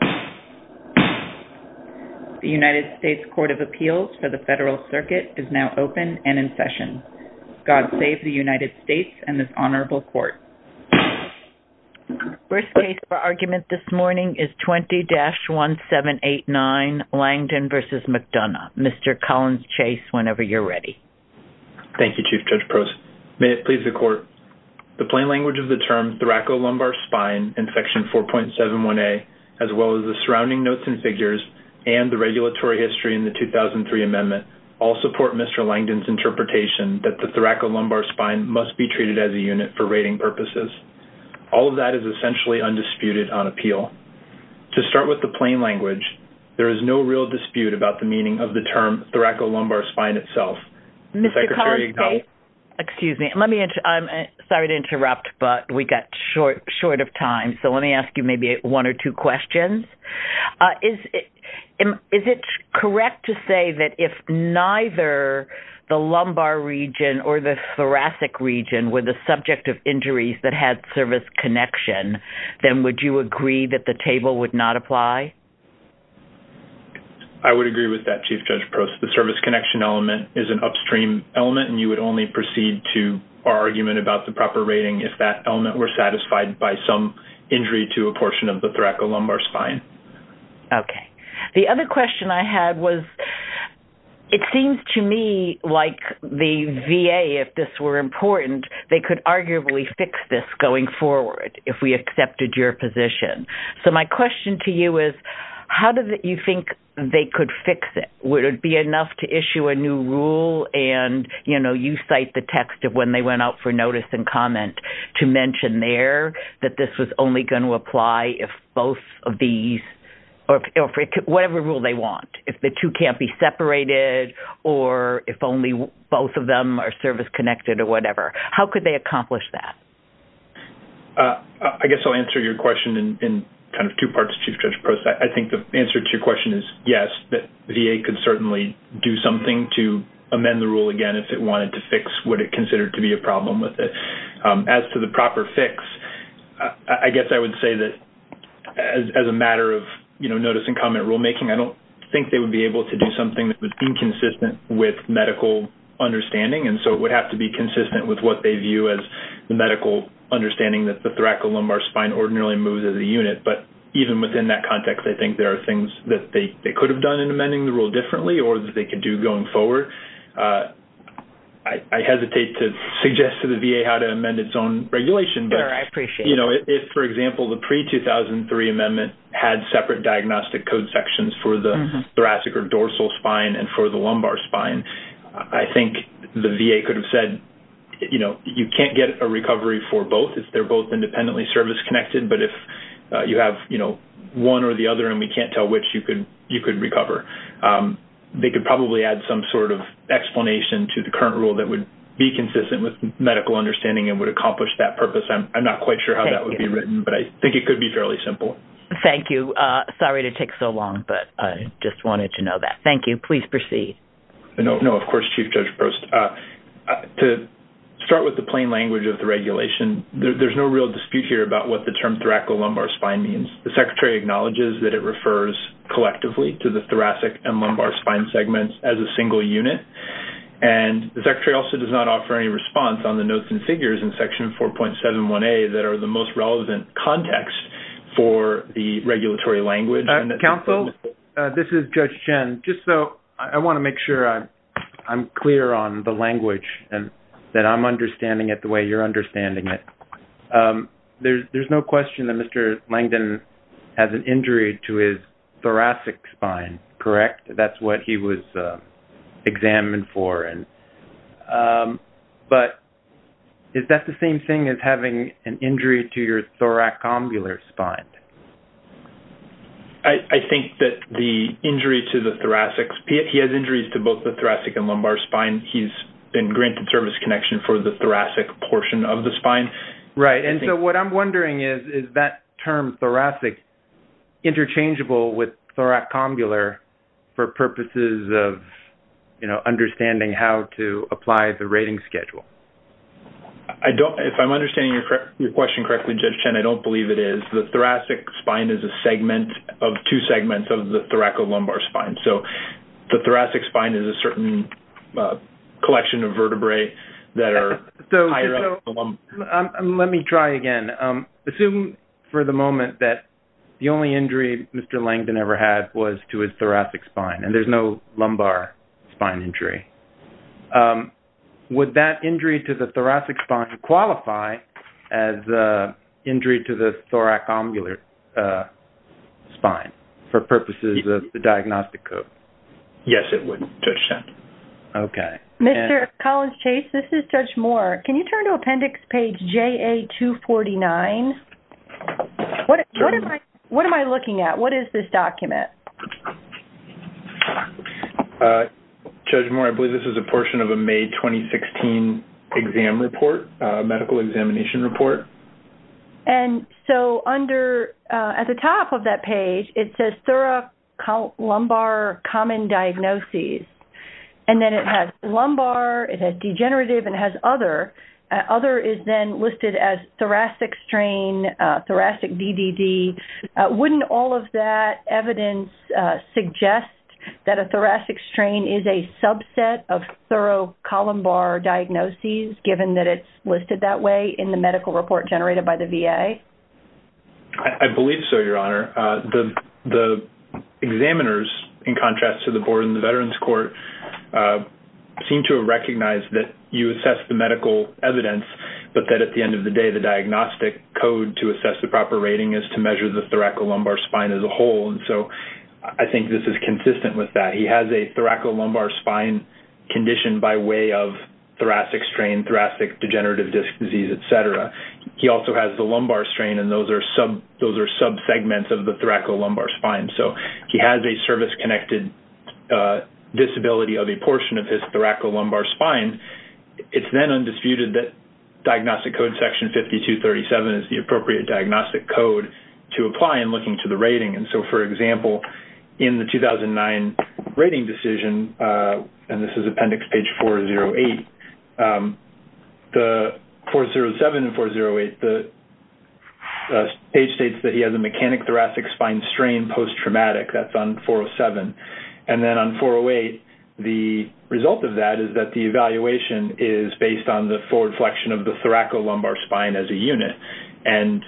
The United States Court of Appeals for the Federal Circuit is now open and in session. God save the United States and this Honorable Court. The first case for argument this morning is 20-1789 Langdon v. McDonough. Mr. Collins-Chase, whenever you're ready. Thank you, Chief Judge Prost. May it please the Court, the plain language of the term thoracolumbar spine in Section 4.71a, as well as the surrounding notes and figures, and the regulatory history in the 2003 amendment, all support Mr. Langdon's interpretation that the thoracolumbar spine must be treated as a unit for rating purposes. All of that is essentially undisputed on appeal. To start with the plain language, there is no real dispute about the meaning of the term thoracolumbar spine itself. Mr. Collins-Chase, excuse me, I'm sorry to interrupt, but we got short of time, so let me ask you maybe one or two questions. Is it correct to say that if neither the lumbar region or the thoracic region were the subject of injuries that had service connection, then would you agree that the table would not apply? I would agree with that, Chief Judge Prost. The service connection element is an upstream element, and you would only proceed to our portion of the thoracolumbar spine. Okay. The other question I had was, it seems to me like the VA, if this were important, they could arguably fix this going forward if we accepted your position. So my question to you is, how do you think they could fix it? Would it be enough to issue a new rule and, you know, you cite the text of when they went out for notice and comment to mention there that this was only going to apply if both of these or whatever rule they want, if the two can't be separated or if only both of them are service connected or whatever? How could they accomplish that? I guess I'll answer your question in kind of two parts, Chief Judge Prost. I think the answer to your question is yes, that VA could certainly do something to amend the rule again if it wanted to fix what it considered to be a problem with it. As to the proper fix, I guess I would say that as a matter of, you know, notice and comment rulemaking, I don't think they would be able to do something that was inconsistent with medical understanding, and so it would have to be consistent with what they view as the medical understanding that the thoracolumbar spine ordinarily moves as a unit. But even within that context, I think there are things that they could have done in amending the rule differently or that they could do going forward. I hesitate to suggest to the VA how to amend its own regulation, but, you know, if, for example, the pre-2003 amendment had separate diagnostic code sections for the thoracic or dorsal spine and for the lumbar spine, I think the VA could have said, you know, you can't get a recovery for both if they're both independently service connected, but if you have, you know, one or the other and we can't tell which, you could recover. They could probably add some sort of explanation to the current rule that would be consistent with medical understanding and would accomplish that purpose. I'm not quite sure how that would be written, but I think it could be fairly simple. Thank you. Sorry to take so long, but I just wanted to know that. Thank you. Please proceed. No, of course, Chief Judge Prost. To start with the plain language of the regulation, there's no real dispute here about what the term thoracolumbar spine means. The Secretary acknowledges that it refers collectively to the thoracic and lumbar spine segments as a single unit, and the Secretary also does not offer any response on the notes and figures in Section 4.71a that are the most relevant context for the regulatory language. Counsel, this is Judge Chen. Just so I want to make sure I'm clear on the language and that I'm understanding it the way you're understanding it. There's no question that Mr. Langdon has an injury to his thoracic spine, correct? That's what he was examined for. But is that the same thing as having an injury to your thoracombular spine? I think that the injury to the thoracic- he has injuries to both the thoracic and lumbar spine. He's been granted service connection for the thoracic portion of the spine. Right. And so what I'm wondering is, is that term thoracic interchangeable with thoracombular for purposes of, you know, understanding how to apply the rating schedule? If I'm understanding your question correctly, Judge Chen, I don't believe it is. The thoracic spine is a segment of two segments of the thoracolumbar spine. So the thoracic spine is a certain collection of vertebrae that are higher up the lumbar. Let me try again. Assume for the moment that the only injury Mr. Langdon ever had was to his thoracic spine and there's no lumbar spine injury. Would that injury to the thoracic spine qualify as an injury to the thoracombular spine for purposes of the diagnostic code? Yes, it would, Judge Chen. Okay. Mr. Collins-Chase, this is Judge Moore. Can you turn to appendix page JA249? What am I looking at? What is this document? Judge Moore, I believe this is a portion of a May 2016 exam report, medical examination report. At the top of that page, it says thoracolumbar common diagnoses. And then it has lumbar, it has degenerative, and it has other. Other is then listed as thoracic strain, thoracic DDD. Wouldn't all of that evidence suggest that a thoracic strain is a subset of thoracolumbar diagnoses, given that it's listed that way in the medical report generated by the VA? I believe so, Your Honor. The examiners, in contrast to the board and the Veterans Court, seem to recognize that you assess the medical evidence, but that at the end of the day, the diagnostic code to assess the proper rating is to measure the thoracolumbar spine as a whole. And so, I think this is consistent with that. He has a thoracolumbar spine conditioned by way of thoracic strain, thoracic degenerative disc disease, et cetera. He also has the lumbar strain, and those are sub-segments of the thoracolumbar spine. So he has a service-connected disability of a portion of his thoracolumbar spine. It's then undisputed that diagnostic code section 5237 is the appropriate diagnostic code to apply in looking to the rating. And so, for example, in the 2009 rating decision, and this is appendix page 408, 407 and 408, the page states that he has a mechanic thoracic spine strain post-traumatic. That's on 407. And then on 408, the result of that is that the evaluation is based on the forward flexion of the thoracolumbar spine as a unit. And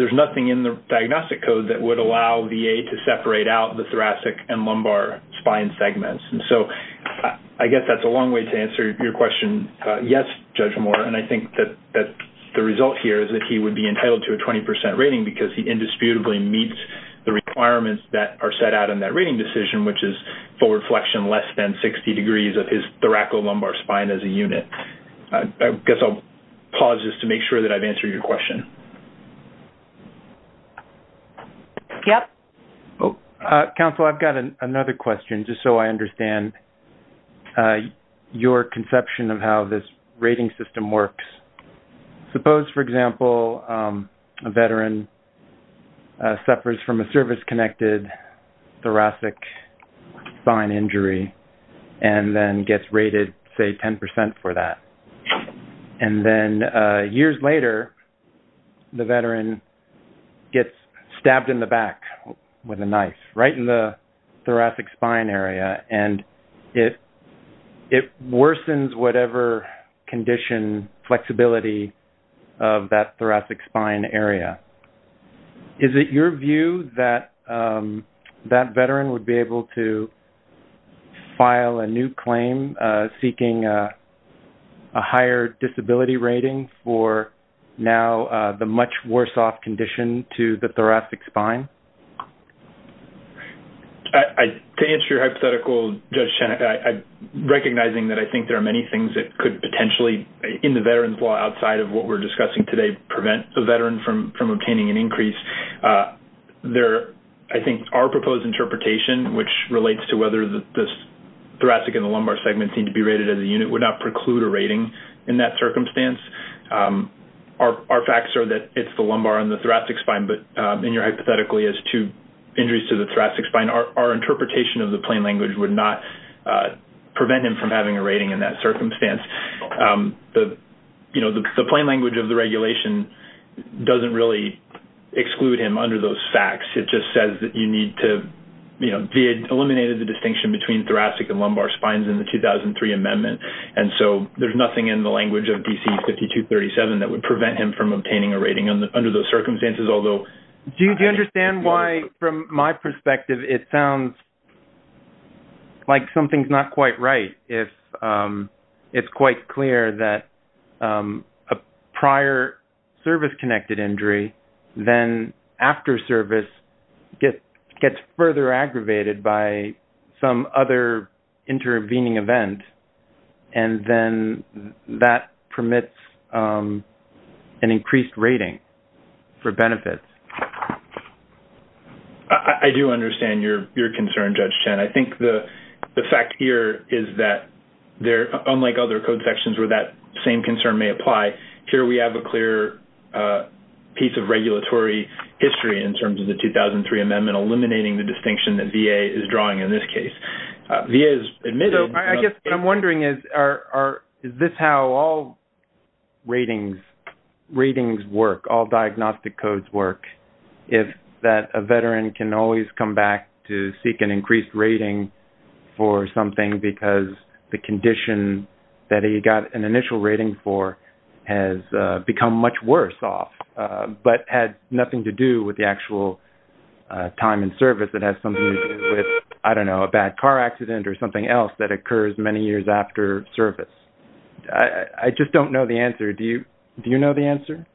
there's nothing in the diagnostic code that would allow VA to separate out the thoracic and lumbar spine segments. And so, I guess that's a long way to answer your question, yes, Judge Moore. And I think that the result here is that he would be entitled to a 20 percent rating because he indisputably meets the requirements that are set out in that rating decision, which is forward flexion less than 60 degrees of his thoracolumbar spine as a unit. I guess I'll pause just to make sure that I've answered your question. Yep. Counsel, I've got another question, just so I understand your conception of how this rating system works. Suppose, for example, a veteran suffers from a service-connected thoracic spine injury and then gets rated, say, 10 percent for that. And then years later, the veteran gets stabbed in the back with a knife, right in the thoracic spine area, and it worsens whatever condition, flexibility of that thoracic spine area. Is it your view that that veteran would be able to file a new claim seeking a higher disability rating for now the much worse-off condition to the thoracic spine? To answer your hypothetical, Judge Chen, I'm recognizing that I think there are many things that could potentially, in the veteran's law outside of what we're discussing today, prevent the veteran from obtaining an increase. I think our proposed interpretation, which relates to whether the thoracic and the lumbar segments need to be rated as a unit, would not preclude a rating in that circumstance. Our facts are that it's the lumbar and the thoracic spine, but in your hypothetical, he has two injuries to the thoracic spine. Our interpretation of the plain language would not prevent him from having a rating in that circumstance. The plain language of the regulation doesn't really exclude him under those facts. It just says that you need to, you know, VA eliminated the distinction between thoracic and lumbar spines in the 2003 amendment, and so there's nothing in the language of DC-5237 that would prevent him from obtaining a rating under those circumstances, although... Do you understand why, from my perspective, it sounds like something's not quite right if it's quite clear that a prior service-connected injury, then after service, gets further aggravated by some other intervening event, and then that permits an increased rating for benefits? I do understand your concern, Judge Chen. I think the fact here is that there, unlike other code sections where that same concern may apply, here we have a clear piece of regulatory history in terms of the 2003 amendment eliminating the distinction that VA is drawing in this case. VA has admitted... So I guess what I'm wondering is, is this how all ratings work, all diagnostic codes work, if that a veteran can always come back to seek an increased rating for something because the condition that he got an initial rating for has become much worse off, but had nothing to do with the actual time in service that has something to do with, I don't know, a bad car accident or something else that occurs many years after service? I just don't know the answer. Do you know the answer?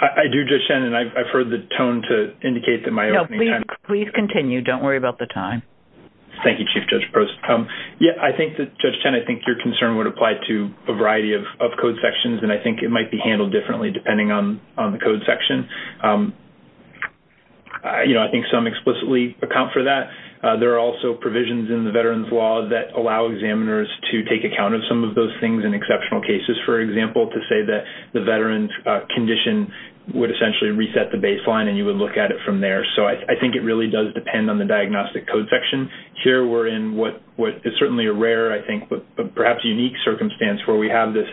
I do, Judge Chen, and I've heard the tone to indicate that my opening time... No, please continue. Don't worry about the time. Thank you, Chief Judge Prost. Yeah, I think that, Judge Chen, I think your concern would apply to a variety of code sections, and I think it might be handled differently depending on the code section. I think some explicitly account for that. There are also provisions in the Veterans Law that allow examiners to take account of some of those things in exceptional cases, for example, to say that the veteran's condition would essentially reset the baseline and you would look at it from there. So I think it really does depend on the diagnostic code section. Here we're in what is certainly a rare, I think, but perhaps unique circumstance where we have this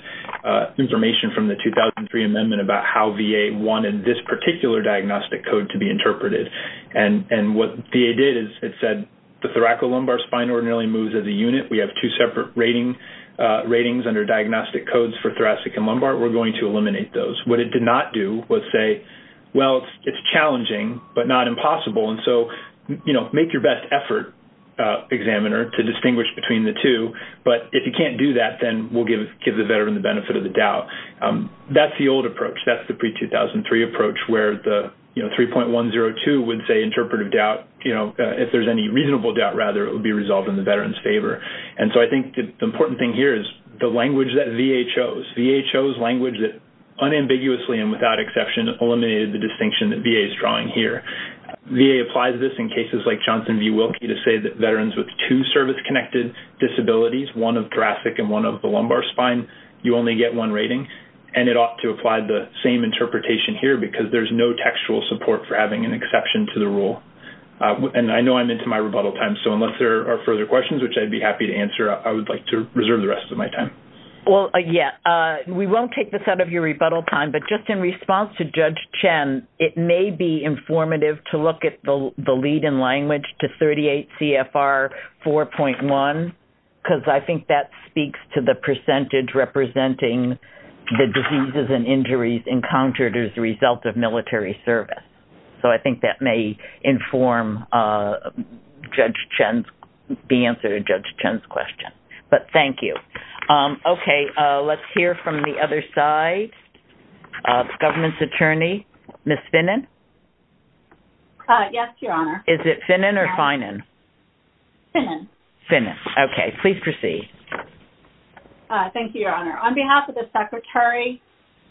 information from the 2003 amendment about how VA wanted this particular diagnostic code to be interpreted, and what VA did is it said the thoracolumbar spine ordinarily moves as a unit. We have two separate ratings under diagnostic codes for thoracic and lumbar. We're going to eliminate those. What it did not do was say, well, it's challenging, but not impossible, and so make your best effort, examiner, to distinguish between the two, but if you can't do that, then we'll give the veteran the benefit of the doubt. That's the old approach. That's the pre-2003 approach where the 3.102 would say interpretive doubt, if there's any to resolve in the veteran's favor, and so I think the important thing here is the language that VA chose. VA chose language that unambiguously and without exception eliminated the distinction that VA is drawing here. VA applies this in cases like Johnson v. Wilkie to say that veterans with two service-connected disabilities, one of thoracic and one of the lumbar spine, you only get one rating, and it ought to apply the same interpretation here because there's no textual support for having an exception to the rule, and I know I'm into my rebuttal time, so unless there are further questions, which I'd be happy to answer, I would like to reserve the rest of my time. Well, yeah. We won't take this out of your rebuttal time, but just in response to Judge Chen, it may be informative to look at the lead in language to 38 CFR 4.1 because I think that speaks to the percentage representing the diseases and injuries encountered as a result of military service. So I think that may inform Judge Chen's, the answer to Judge Chen's question, but thank you. Okay. Let's hear from the other side, the government's attorney, Ms. Finnan. Yes, Your Honor. Is it Finnan or Finan? Finnan. Finnan. Okay. Please proceed. Thank you, Your Honor. On behalf of the Secretary,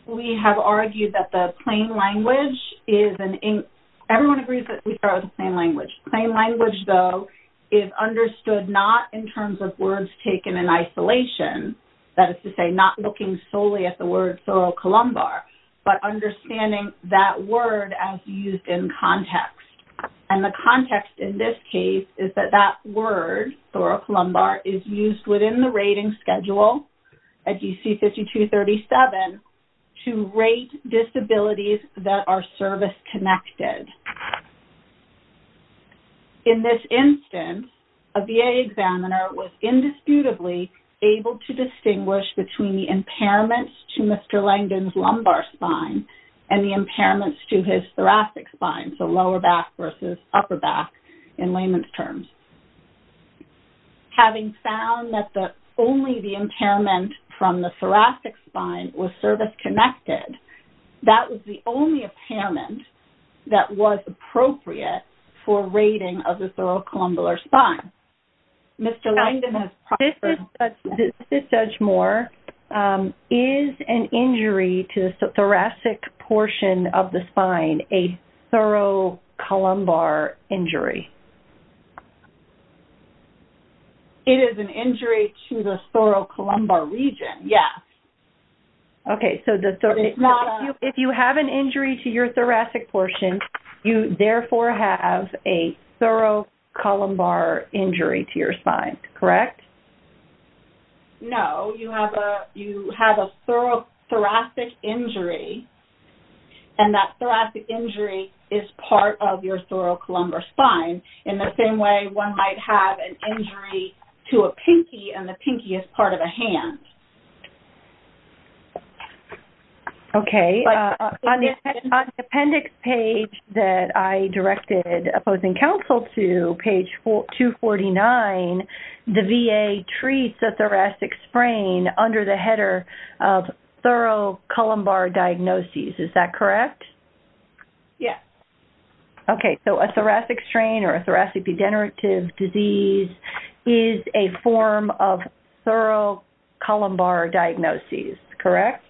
we have argued that the plain language is an, everyone agrees that we start with the plain language. Plain language, though, is understood not in terms of words taken in isolation, that is to say, not looking solely at the word sorocolumbar, but understanding that word as used in context, and the context in this case is that that word, sorocolumbar, is used within the rating schedule, as you see 5237, to rate disabilities that are service-connected. In this instance, a VA examiner was indisputably able to distinguish between the impairments to Mr. Langdon's lumbar spine and the impairments to his thoracic spine, so lower back versus upper back in layman's terms. And having found that only the impairment from the thoracic spine was service-connected, that was the only impairment that was appropriate for rating of the sorocolumbar spine. Mr. Langdon has- This is Judge Moore. Is an injury to the thoracic portion of the spine a sorocolumbar injury? It is an injury to the sorocolumbar region, yes. Okay, so if you have an injury to your thoracic portion, you therefore have a sorocolumbar injury to your spine, correct? No, you have a thoracic injury, and that thoracic injury is part of your sorocolumbar spine, and in the same way, one might have an injury to a pinkie, and the pinkie is part of a hand. Okay, on the appendix page that I directed opposing counsel to, page 249, the VA treats a thoracic sprain under the header of sorocolumbar diagnoses, is that correct? Yes. Okay, so a thoracic strain or a thoracic degenerative disease is a form of sorocolumbar diagnoses, correct?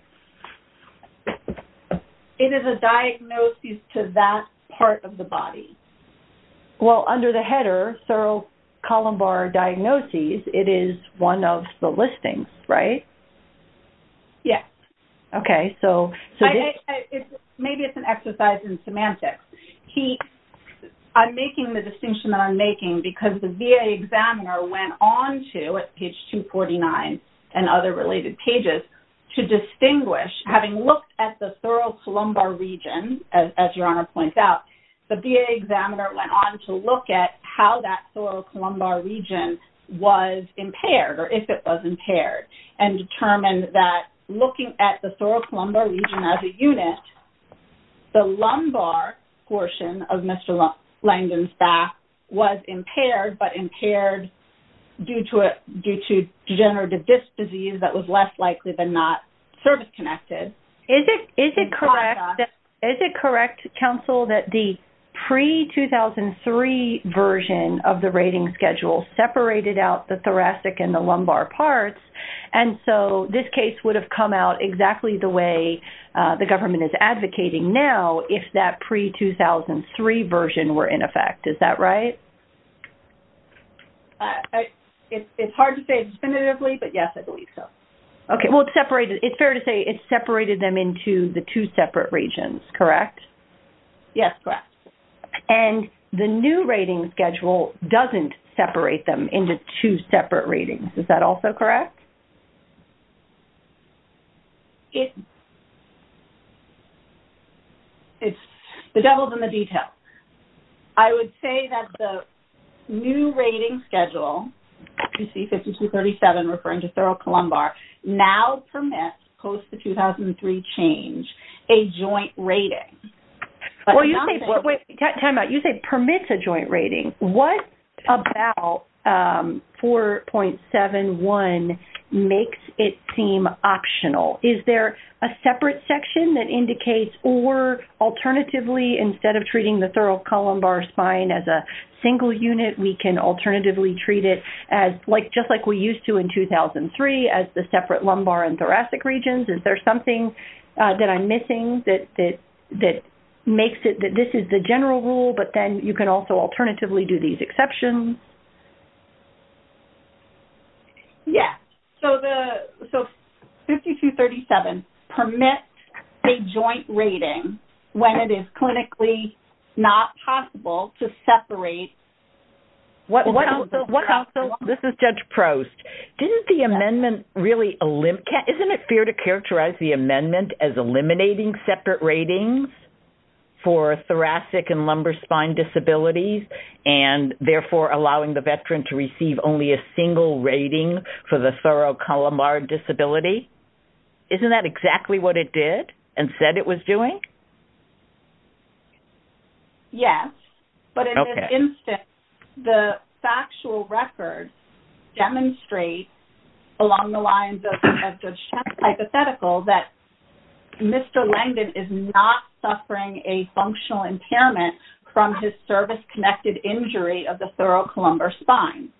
It is a diagnosis to that part of the body. Well, under the header, sorocolumbar diagnoses, it is one of the listings, right? Yes. Okay, so- Maybe it's an exercise in semantics. I'm making the distinction that I'm making because the VA examiner went on to, at page 249 and other related pages, to distinguish, having looked at the sorocolumbar region, as your Honor points out, the VA examiner went on to look at how that sorocolumbar region was impaired or if it was impaired, and determined that looking at the sorocolumbar region as a unit, the lumbar portion of Mr. Langdon's back was impaired, but impaired due to degenerative disc disease that was less likely than not service-connected. Is it correct, counsel, that the pre-2003 version of the rating schedule separated out the thoracic and the lumbar parts, and so this case would have come out exactly the way the government is advocating now if that pre-2003 version were in effect. Is that right? It's hard to say definitively, but yes, I believe so. Okay, well, it's fair to say it separated them into the two separate regions, correct? Yes, correct. And the new rating schedule doesn't separate them into two separate ratings. Is that also correct? It's the devil's in the detail. I would say that the new rating schedule, you see 5237 referring to thoracolumbar, now permits post the 2003 change a joint rating. Well, you say permits a joint rating. What about 4.71 makes it seem optional? Is there a separate section that indicates or alternatively instead of treating the thoracolumbar spine as a single unit, we can alternatively treat it just like we used to in 2003 as the separate lumbar and thoracic regions? Is there something that I'm missing that makes it that this is the general rule, but then you can also alternatively do these exceptions? Yes, so 5237 permits a joint rating when it is clinically not possible to separate. This is Judge Prost. Isn't it fair to characterize the amendment as eliminating separate ratings for thoracic and lumbar spine disabilities and therefore allowing the veteran to receive only a single rating for the thoracolumbar disability? Isn't that exactly what it did and said it was doing? Yes, but in this instance, the factual record demonstrates along the lines of the hypothetical that Mr. Langdon is not suffering a functional impairment from his service-connected injury of the thoracolumbar spine.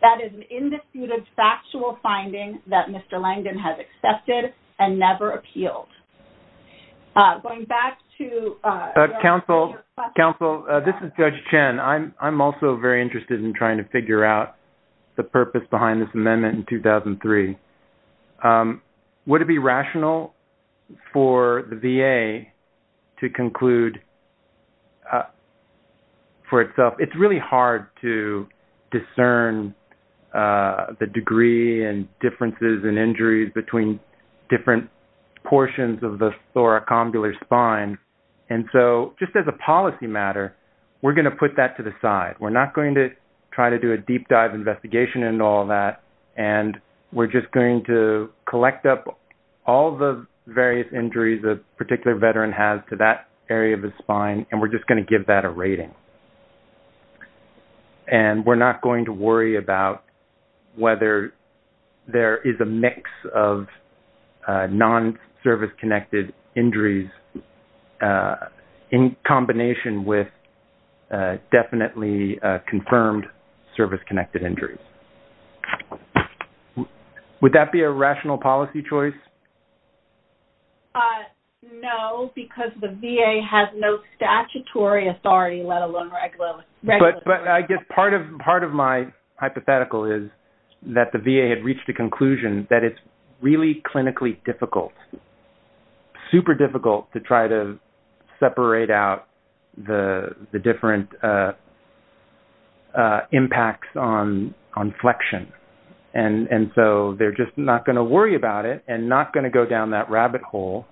That is an indisputed factual finding that Mr. Langdon has accepted and never appealed. Going back to your question... Counsel, this is Judge Chen. I'm also very interested in trying to figure out the purpose behind this amendment in 2003. Would it be rational for the VA to conclude for itself? It's really hard to discern the degree and differences and injuries between different portions of the thoracolumbar spine. And so, just as a policy matter, we're going to put that to the side. We're not going to try to do a deep dive investigation and all that. And we're just going to collect up all the various injuries a particular veteran has to that area of the spine, and we're just going to give that a rating. And we're not going to worry about whether there is a mix of non-service-connected injuries in combination with definitely confirmed service-connected injuries. Would that be a rational policy choice? No, because the VA has no statutory authority, let alone regular authority. But I guess part of my hypothetical is that the VA had reached a conclusion that it's really clinically difficult, super difficult, to try to separate out the different impacts on flexion. And so, they're just not going to worry about it and not going to go down that rabbit hole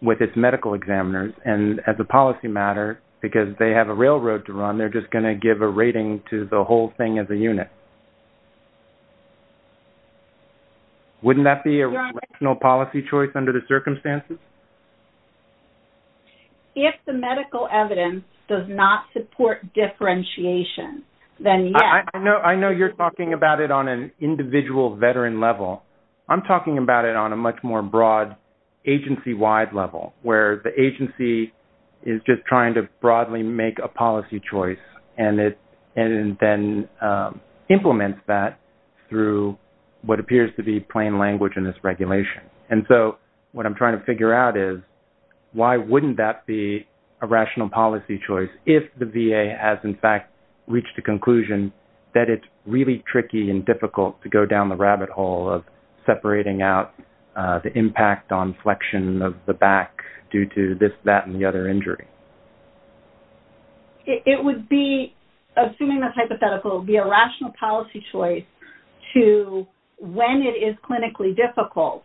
with its medical examiners. And as a policy matter, because they have a railroad to run, they're just going to give a rating to the whole thing as a unit. Wouldn't that be a rational policy choice under the circumstances? If the medical evidence does not support differentiation, then yes. I know you're talking about it on an individual veteran level. I'm talking about it on a much more broad agency-wide level, where the agency is just trying to broadly make a policy choice, and then implements that through what appears to be plain language in this regulation. And so, what I'm trying to figure out is, why wouldn't that be a rational policy choice if the VA has, in fact, reached a conclusion that it's really tricky and difficult to go down the rabbit hole of separating out the impact on flexion of the back due to this, that, and the other injury? It would be, assuming that's hypothetical, be a rational policy choice to, when it is clinically difficult,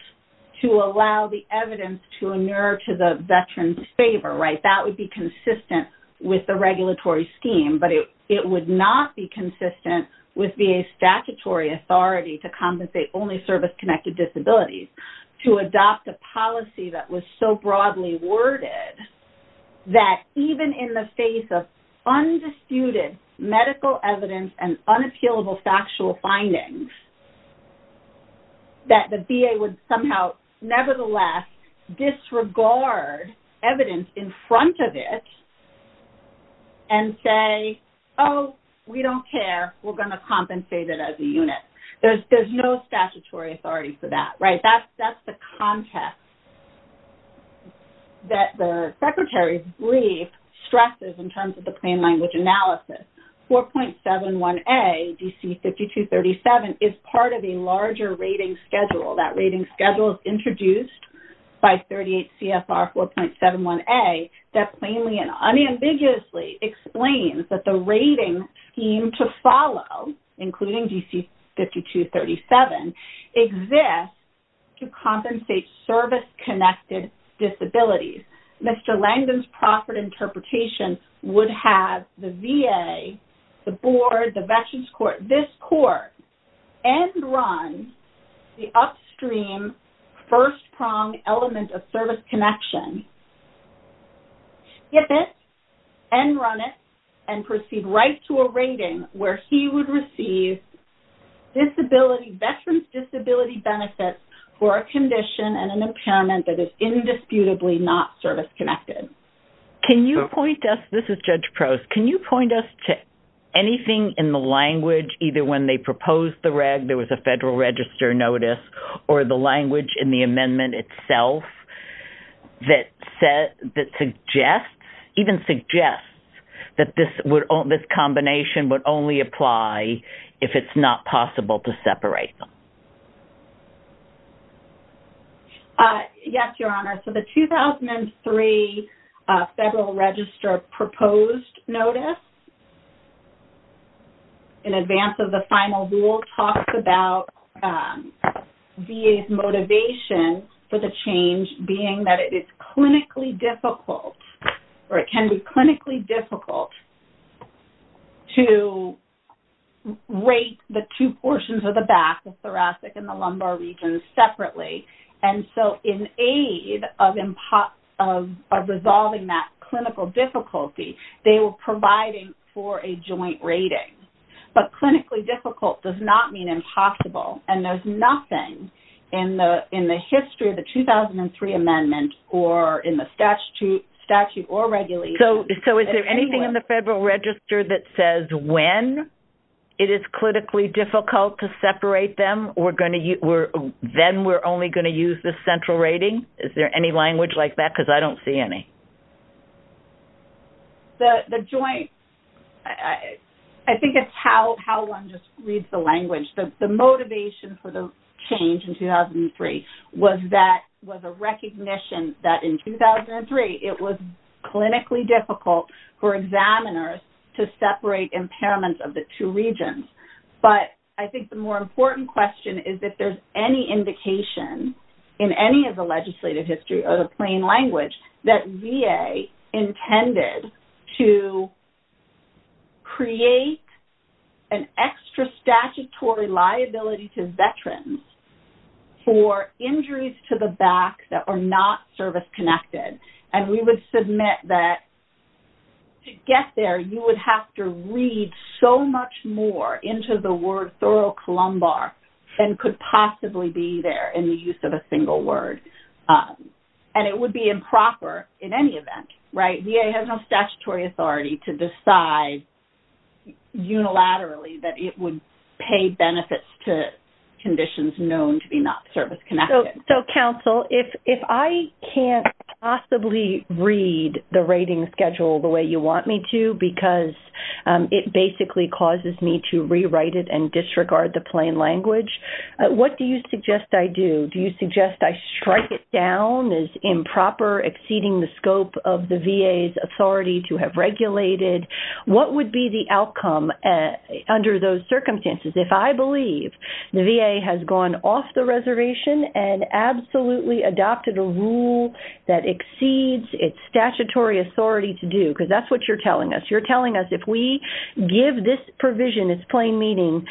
to allow the evidence to inure to the veteran's favor, right? That would be consistent with the regulatory scheme, but it would not be consistent with VA's statutory authority to compensate only service-connected disabilities. To adopt a policy that was so broadly worded, that even in the face of undisputed medical evidence and unappealable factual findings, that the VA would somehow, nevertheless, disregard evidence in front of it and say, oh, we don't care, we're going to compensate it as a unit. There's no statutory authority for that, right? That's the context that the Secretary's brief stresses in terms of the plain language analysis. 4.71a, DC 5237, is part of a larger rating schedule. That rating schedule is introduced by 38 CFR 4.71a that plainly and unambiguously explains that the rating scheme to follow, including DC 5237, exists to compensate service-connected disabilities. Mr. Langdon's proffered interpretation would have the VA, the board, the veterans court, this court, and run the upstream first-pronged element of service connection, skip it, and run it, and proceed right to a rating where he would receive disability, veterans disability benefits for a condition and an impairment that is indisputably not service-connected. Can you point us, this is Judge Prost, can you point us to anything in the language, either when they proposed the reg, there was a federal register notice, or the language in the amendment itself that suggests, even suggests, that this combination would only apply if it's not possible to separate them? Yes, Your Honor. So the 2003 federal register proposed notice in advance of the final rule talks about VA's motivation for the change being that it is clinically difficult, or it can be clinically difficult to rate the two portions of the back, the thoracic and the lumbar region, separately. And so, in aid of resolving that clinical difficulty, they were providing for a joint rating. But clinically difficult does not mean impossible, and there's nothing in the history of the 2003 amendment, or in the statute, or regulation. So is there anything in the federal register that says when it is clinically difficult to separate them, then we're only going to use the central rating? Is there any language like that? Because I don't see any. The joint, I think it's how one just reads the language. The motivation for the change in 2003 was that, was a recognition that in 2003 it was clinically difficult for examiners to separate impairments of the two regions. But I think the more important question is if there's any indication in any of the legislative history or the plain language that VA intended to create an extra statutory liability to veterans for injuries to the back that are not service-connected. And we would submit that to get there, you would have to read so much more into the word thorough lumbar than could possibly be there in the use of a single word. And it would be improper in any event, right? VA has no statutory authority to decide unilaterally that it would pay benefits to conditions known to be not service-connected. So counsel, if I can't possibly read the rating schedule the way you want me to, because it basically causes me to rewrite it and disregard the plain language, what do you suggest I do? Do you suggest I strike it down as improper, exceeding the scope of the VA's authority to have regulated? What would be the outcome under those circumstances? If I believe the VA has gone off the reservation and absolutely adopted a rule that exceeds its statutory authority to do, because that's what you're telling us. You're telling us if we give this provision its plain meaning,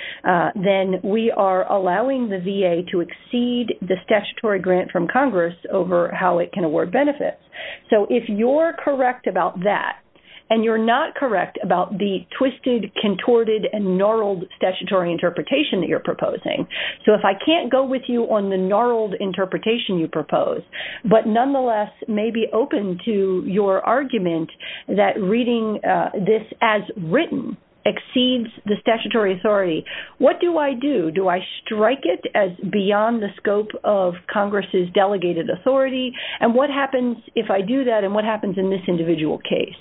then we are allowing the VA to exceed the statutory grant from Congress over how it can award benefits. So if you're correct about that, and you're not correct about the twisted, contorted, and gnarled statutory interpretation that you're proposing, so if I can't go with you on the gnarled interpretation you propose, but nonetheless may be open to your argument that reading this as written exceeds the statutory authority, what do I do? Do I strike it as beyond the scope of Congress's delegated authority? And what happens if I do that? And what happens in this individual case?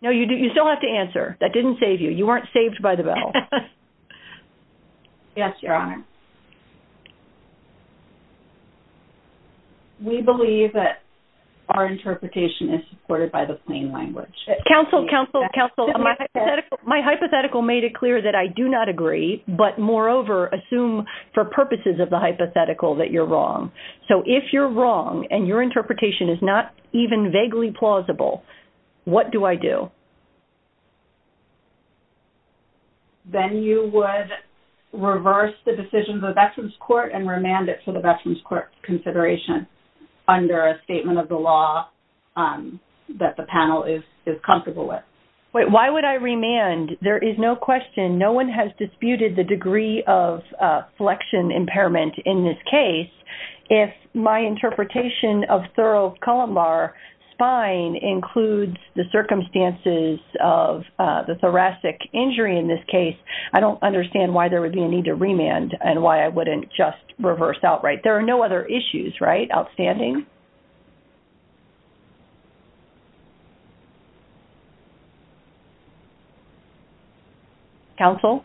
No, you still have to answer. That didn't save you. You weren't saved by the bell. Yes, Your Honor. We believe that our interpretation is supported by the plain language. Counsel, counsel, counsel, my hypothetical made it clear that I do not agree, but moreover, assume for purposes of the hypothetical that you're wrong. So if you're wrong, and your interpretation is not even vaguely plausible, what do I do? Then you would reverse the decision of the Veterans Court and remand it to the Veterans Court consideration under a statement of the law that the panel is comfortable with. Wait, why would I remand? There is no question. No one has disputed the degree of flexion impairment in this case. If my interpretation of thoracolumbar spine includes the circumstances of the thoracic injury in this case, I don't understand why there would be a need to remand and why I wouldn't just reverse outright. There are no other issues, right? Outstanding. Counsel?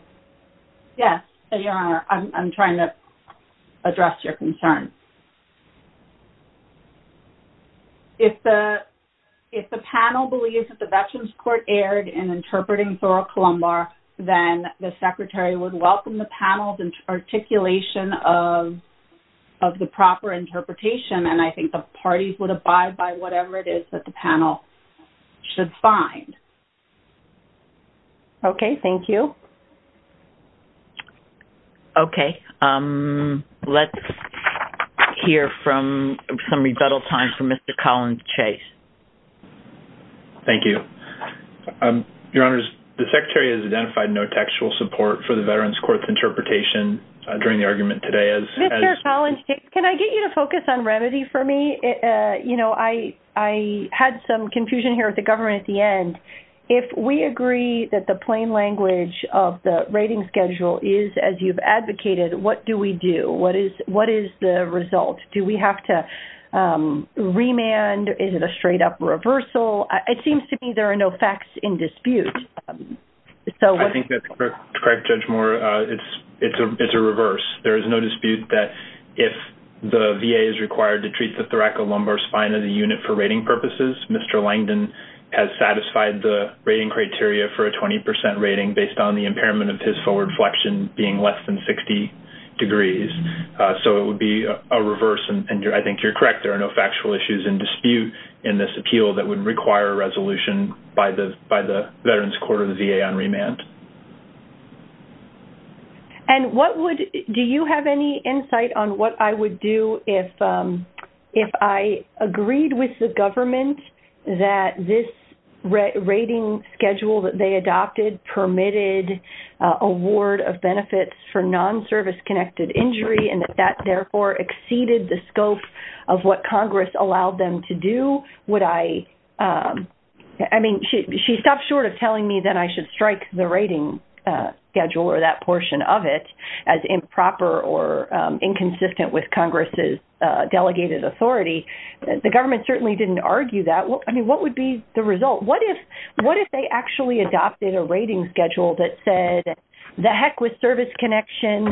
Yes, Your Honor. I'm trying to address your concern. If the panel believes that the Veterans Court erred in interpreting thoracolumbar, then the secretary would welcome the panel's articulation of the proper interpretation, and I think that's the parties would abide by whatever it is that the panel should find. Okay, thank you. Okay. Let's hear from some rebuttal time from Mr. Collins Chase. Thank you. Your Honor, the secretary has identified no textual support for the Veterans Court's interpretation during the argument today as- Can I get you to focus on remedy for me? You know, I had some confusion here with the government at the end. If we agree that the plain language of the rating schedule is, as you've advocated, what do we do? What is the result? Do we have to remand? Is it a straight-up reversal? It seems to me there are no facts in dispute. I think that's correct, Judge Moore. It's a reverse. There is no dispute that if the VA is required to treat the thoracolumbar spine of the unit for rating purposes, Mr. Langdon has satisfied the rating criteria for a 20% rating based on the impairment of his forward flexion being less than 60 degrees. So it would be a reverse, and I think you're correct. There are no factual issues in dispute in this appeal that would require a resolution by the Veterans Court or the VA on remand. And what would-do you have any insight on what I would do if I agreed with the government that this rating schedule that they adopted permitted award of benefits for non-service connected injury, and that that therefore exceeded the scope of what Congress allowed them to do? Would I-I mean, she stopped short of telling me that I should strike the rating. Schedule or that portion of it as improper or inconsistent with Congress's delegated authority. The government certainly didn't argue that. I mean, what would be the result? What if-what if they actually adopted a rating schedule that said, the heck with service connection,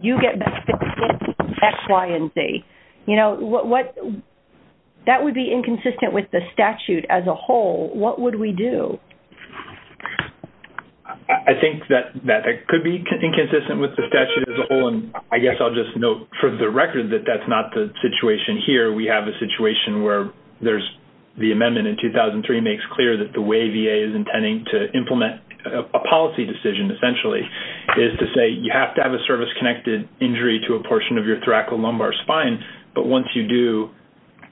you get X, Y, and Z? You know, what-that would be inconsistent with the statute as a whole. What would we do? I think that that could be inconsistent with the statute as a whole, and I guess I'll just note for the record that that's not the situation here. We have a situation where there's-the amendment in 2003 makes clear that the way VA is intending to implement a policy decision, essentially, is to say you have to have a service connected injury to a portion of your thoracolumbar spine, but once you do,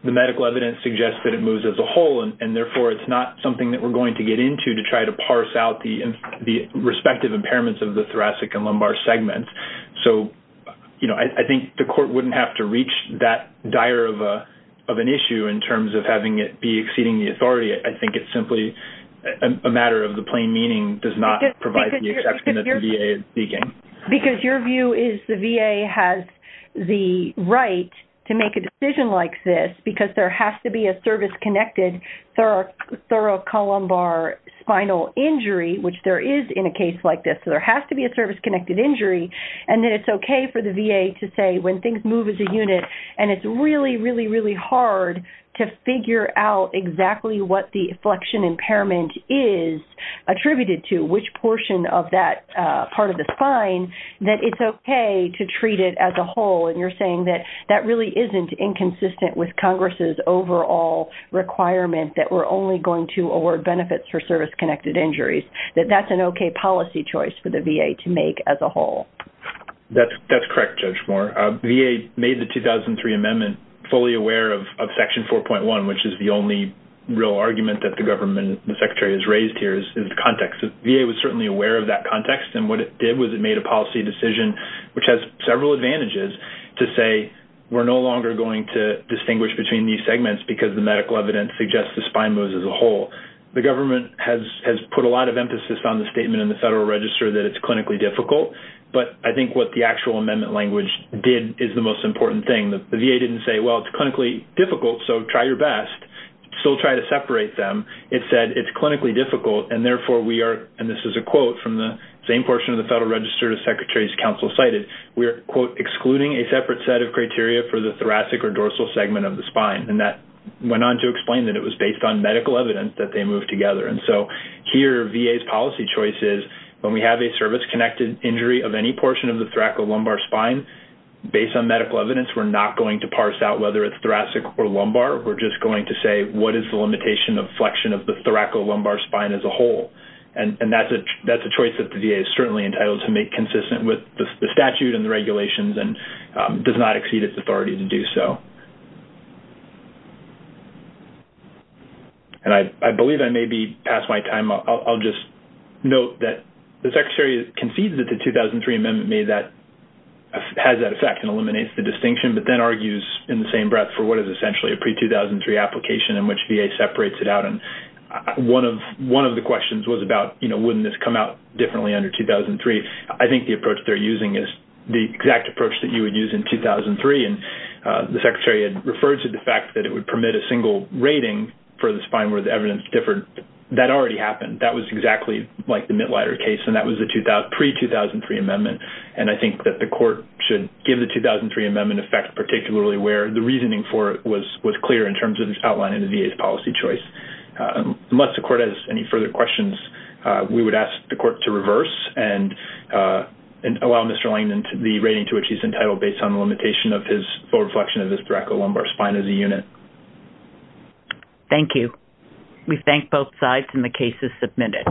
the medical evidence suggests that it moves as a whole, and therefore it's not something that we're going to get into to try to parse out the respective impairments of the thoracic and lumbar segment. So, you know, I think the court wouldn't have to reach that dire of an issue in terms of having it be exceeding the authority. I think it's simply a matter of the plain meaning does not provide the exception that the VA is seeking. Because your view is the VA has the right to make a decision like this because there is spinal injury, which there is in a case like this. So there has to be a service connected injury, and then it's okay for the VA to say when things move as a unit, and it's really, really, really hard to figure out exactly what the inflection impairment is attributed to, which portion of that part of the spine, that it's okay to treat it as a whole. And you're saying that that really isn't inconsistent with Congress's overall requirement that we're only going to award benefits for service connected injuries, that that's an okay policy choice for the VA to make as a whole. That's correct, Judge Moore. VA made the 2003 Amendment fully aware of Section 4.1, which is the only real argument that the government, the Secretary has raised here is the context. VA was certainly aware of that context. And what it did was it made a policy decision, which has several advantages to say we're no longer going to distinguish between these segments because the medical evidence suggests the spine moves as a whole. The government has put a lot of emphasis on the statement in the Federal Register that it's clinically difficult, but I think what the actual amendment language did is the most important thing. The VA didn't say, well, it's clinically difficult, so try your best, still try to separate them. It said it's clinically difficult, and therefore we are, and this is a quote from the same portion of the Federal Register the Secretary's counsel cited, we are, quote, excluding a thoracic or dorsal segment of the spine. And that went on to explain that it was based on medical evidence that they moved together. And so here VA's policy choice is when we have a service-connected injury of any portion of the thoracolumbar spine, based on medical evidence, we're not going to parse out whether it's thoracic or lumbar. We're just going to say what is the limitation of flexion of the thoracolumbar spine as a whole. And that's a choice that the VA is certainly entitled to make consistent with the statute and the regulations and does not exceed its authority to do so. And I believe I may be past my time. I'll just note that the Secretary concedes that the 2003 amendment has that effect and eliminates the distinction, but then argues in the same breath for what is essentially a pre-2003 application in which VA separates it out. And one of the questions was about, you know, wouldn't this come out differently under 2003? I think the approach they're using is the exact approach that you would use in 2003. And the Secretary had referred to the fact that it would permit a single rating for the spine where the evidence differed. That already happened. That was exactly like the Mittleider case. And that was the pre-2003 amendment. And I think that the Court should give the 2003 amendment effect, particularly where the reasoning for it was clear in terms of its outline in the VA's policy choice. Unless the Court has any further questions, we would ask the Court to reverse. And allow Mr. Langdon the rating to which he's entitled based on the limitation of his forward flexion of his brachial lumbar spine as a unit. Thank you. We thank both sides, and the case is submitted.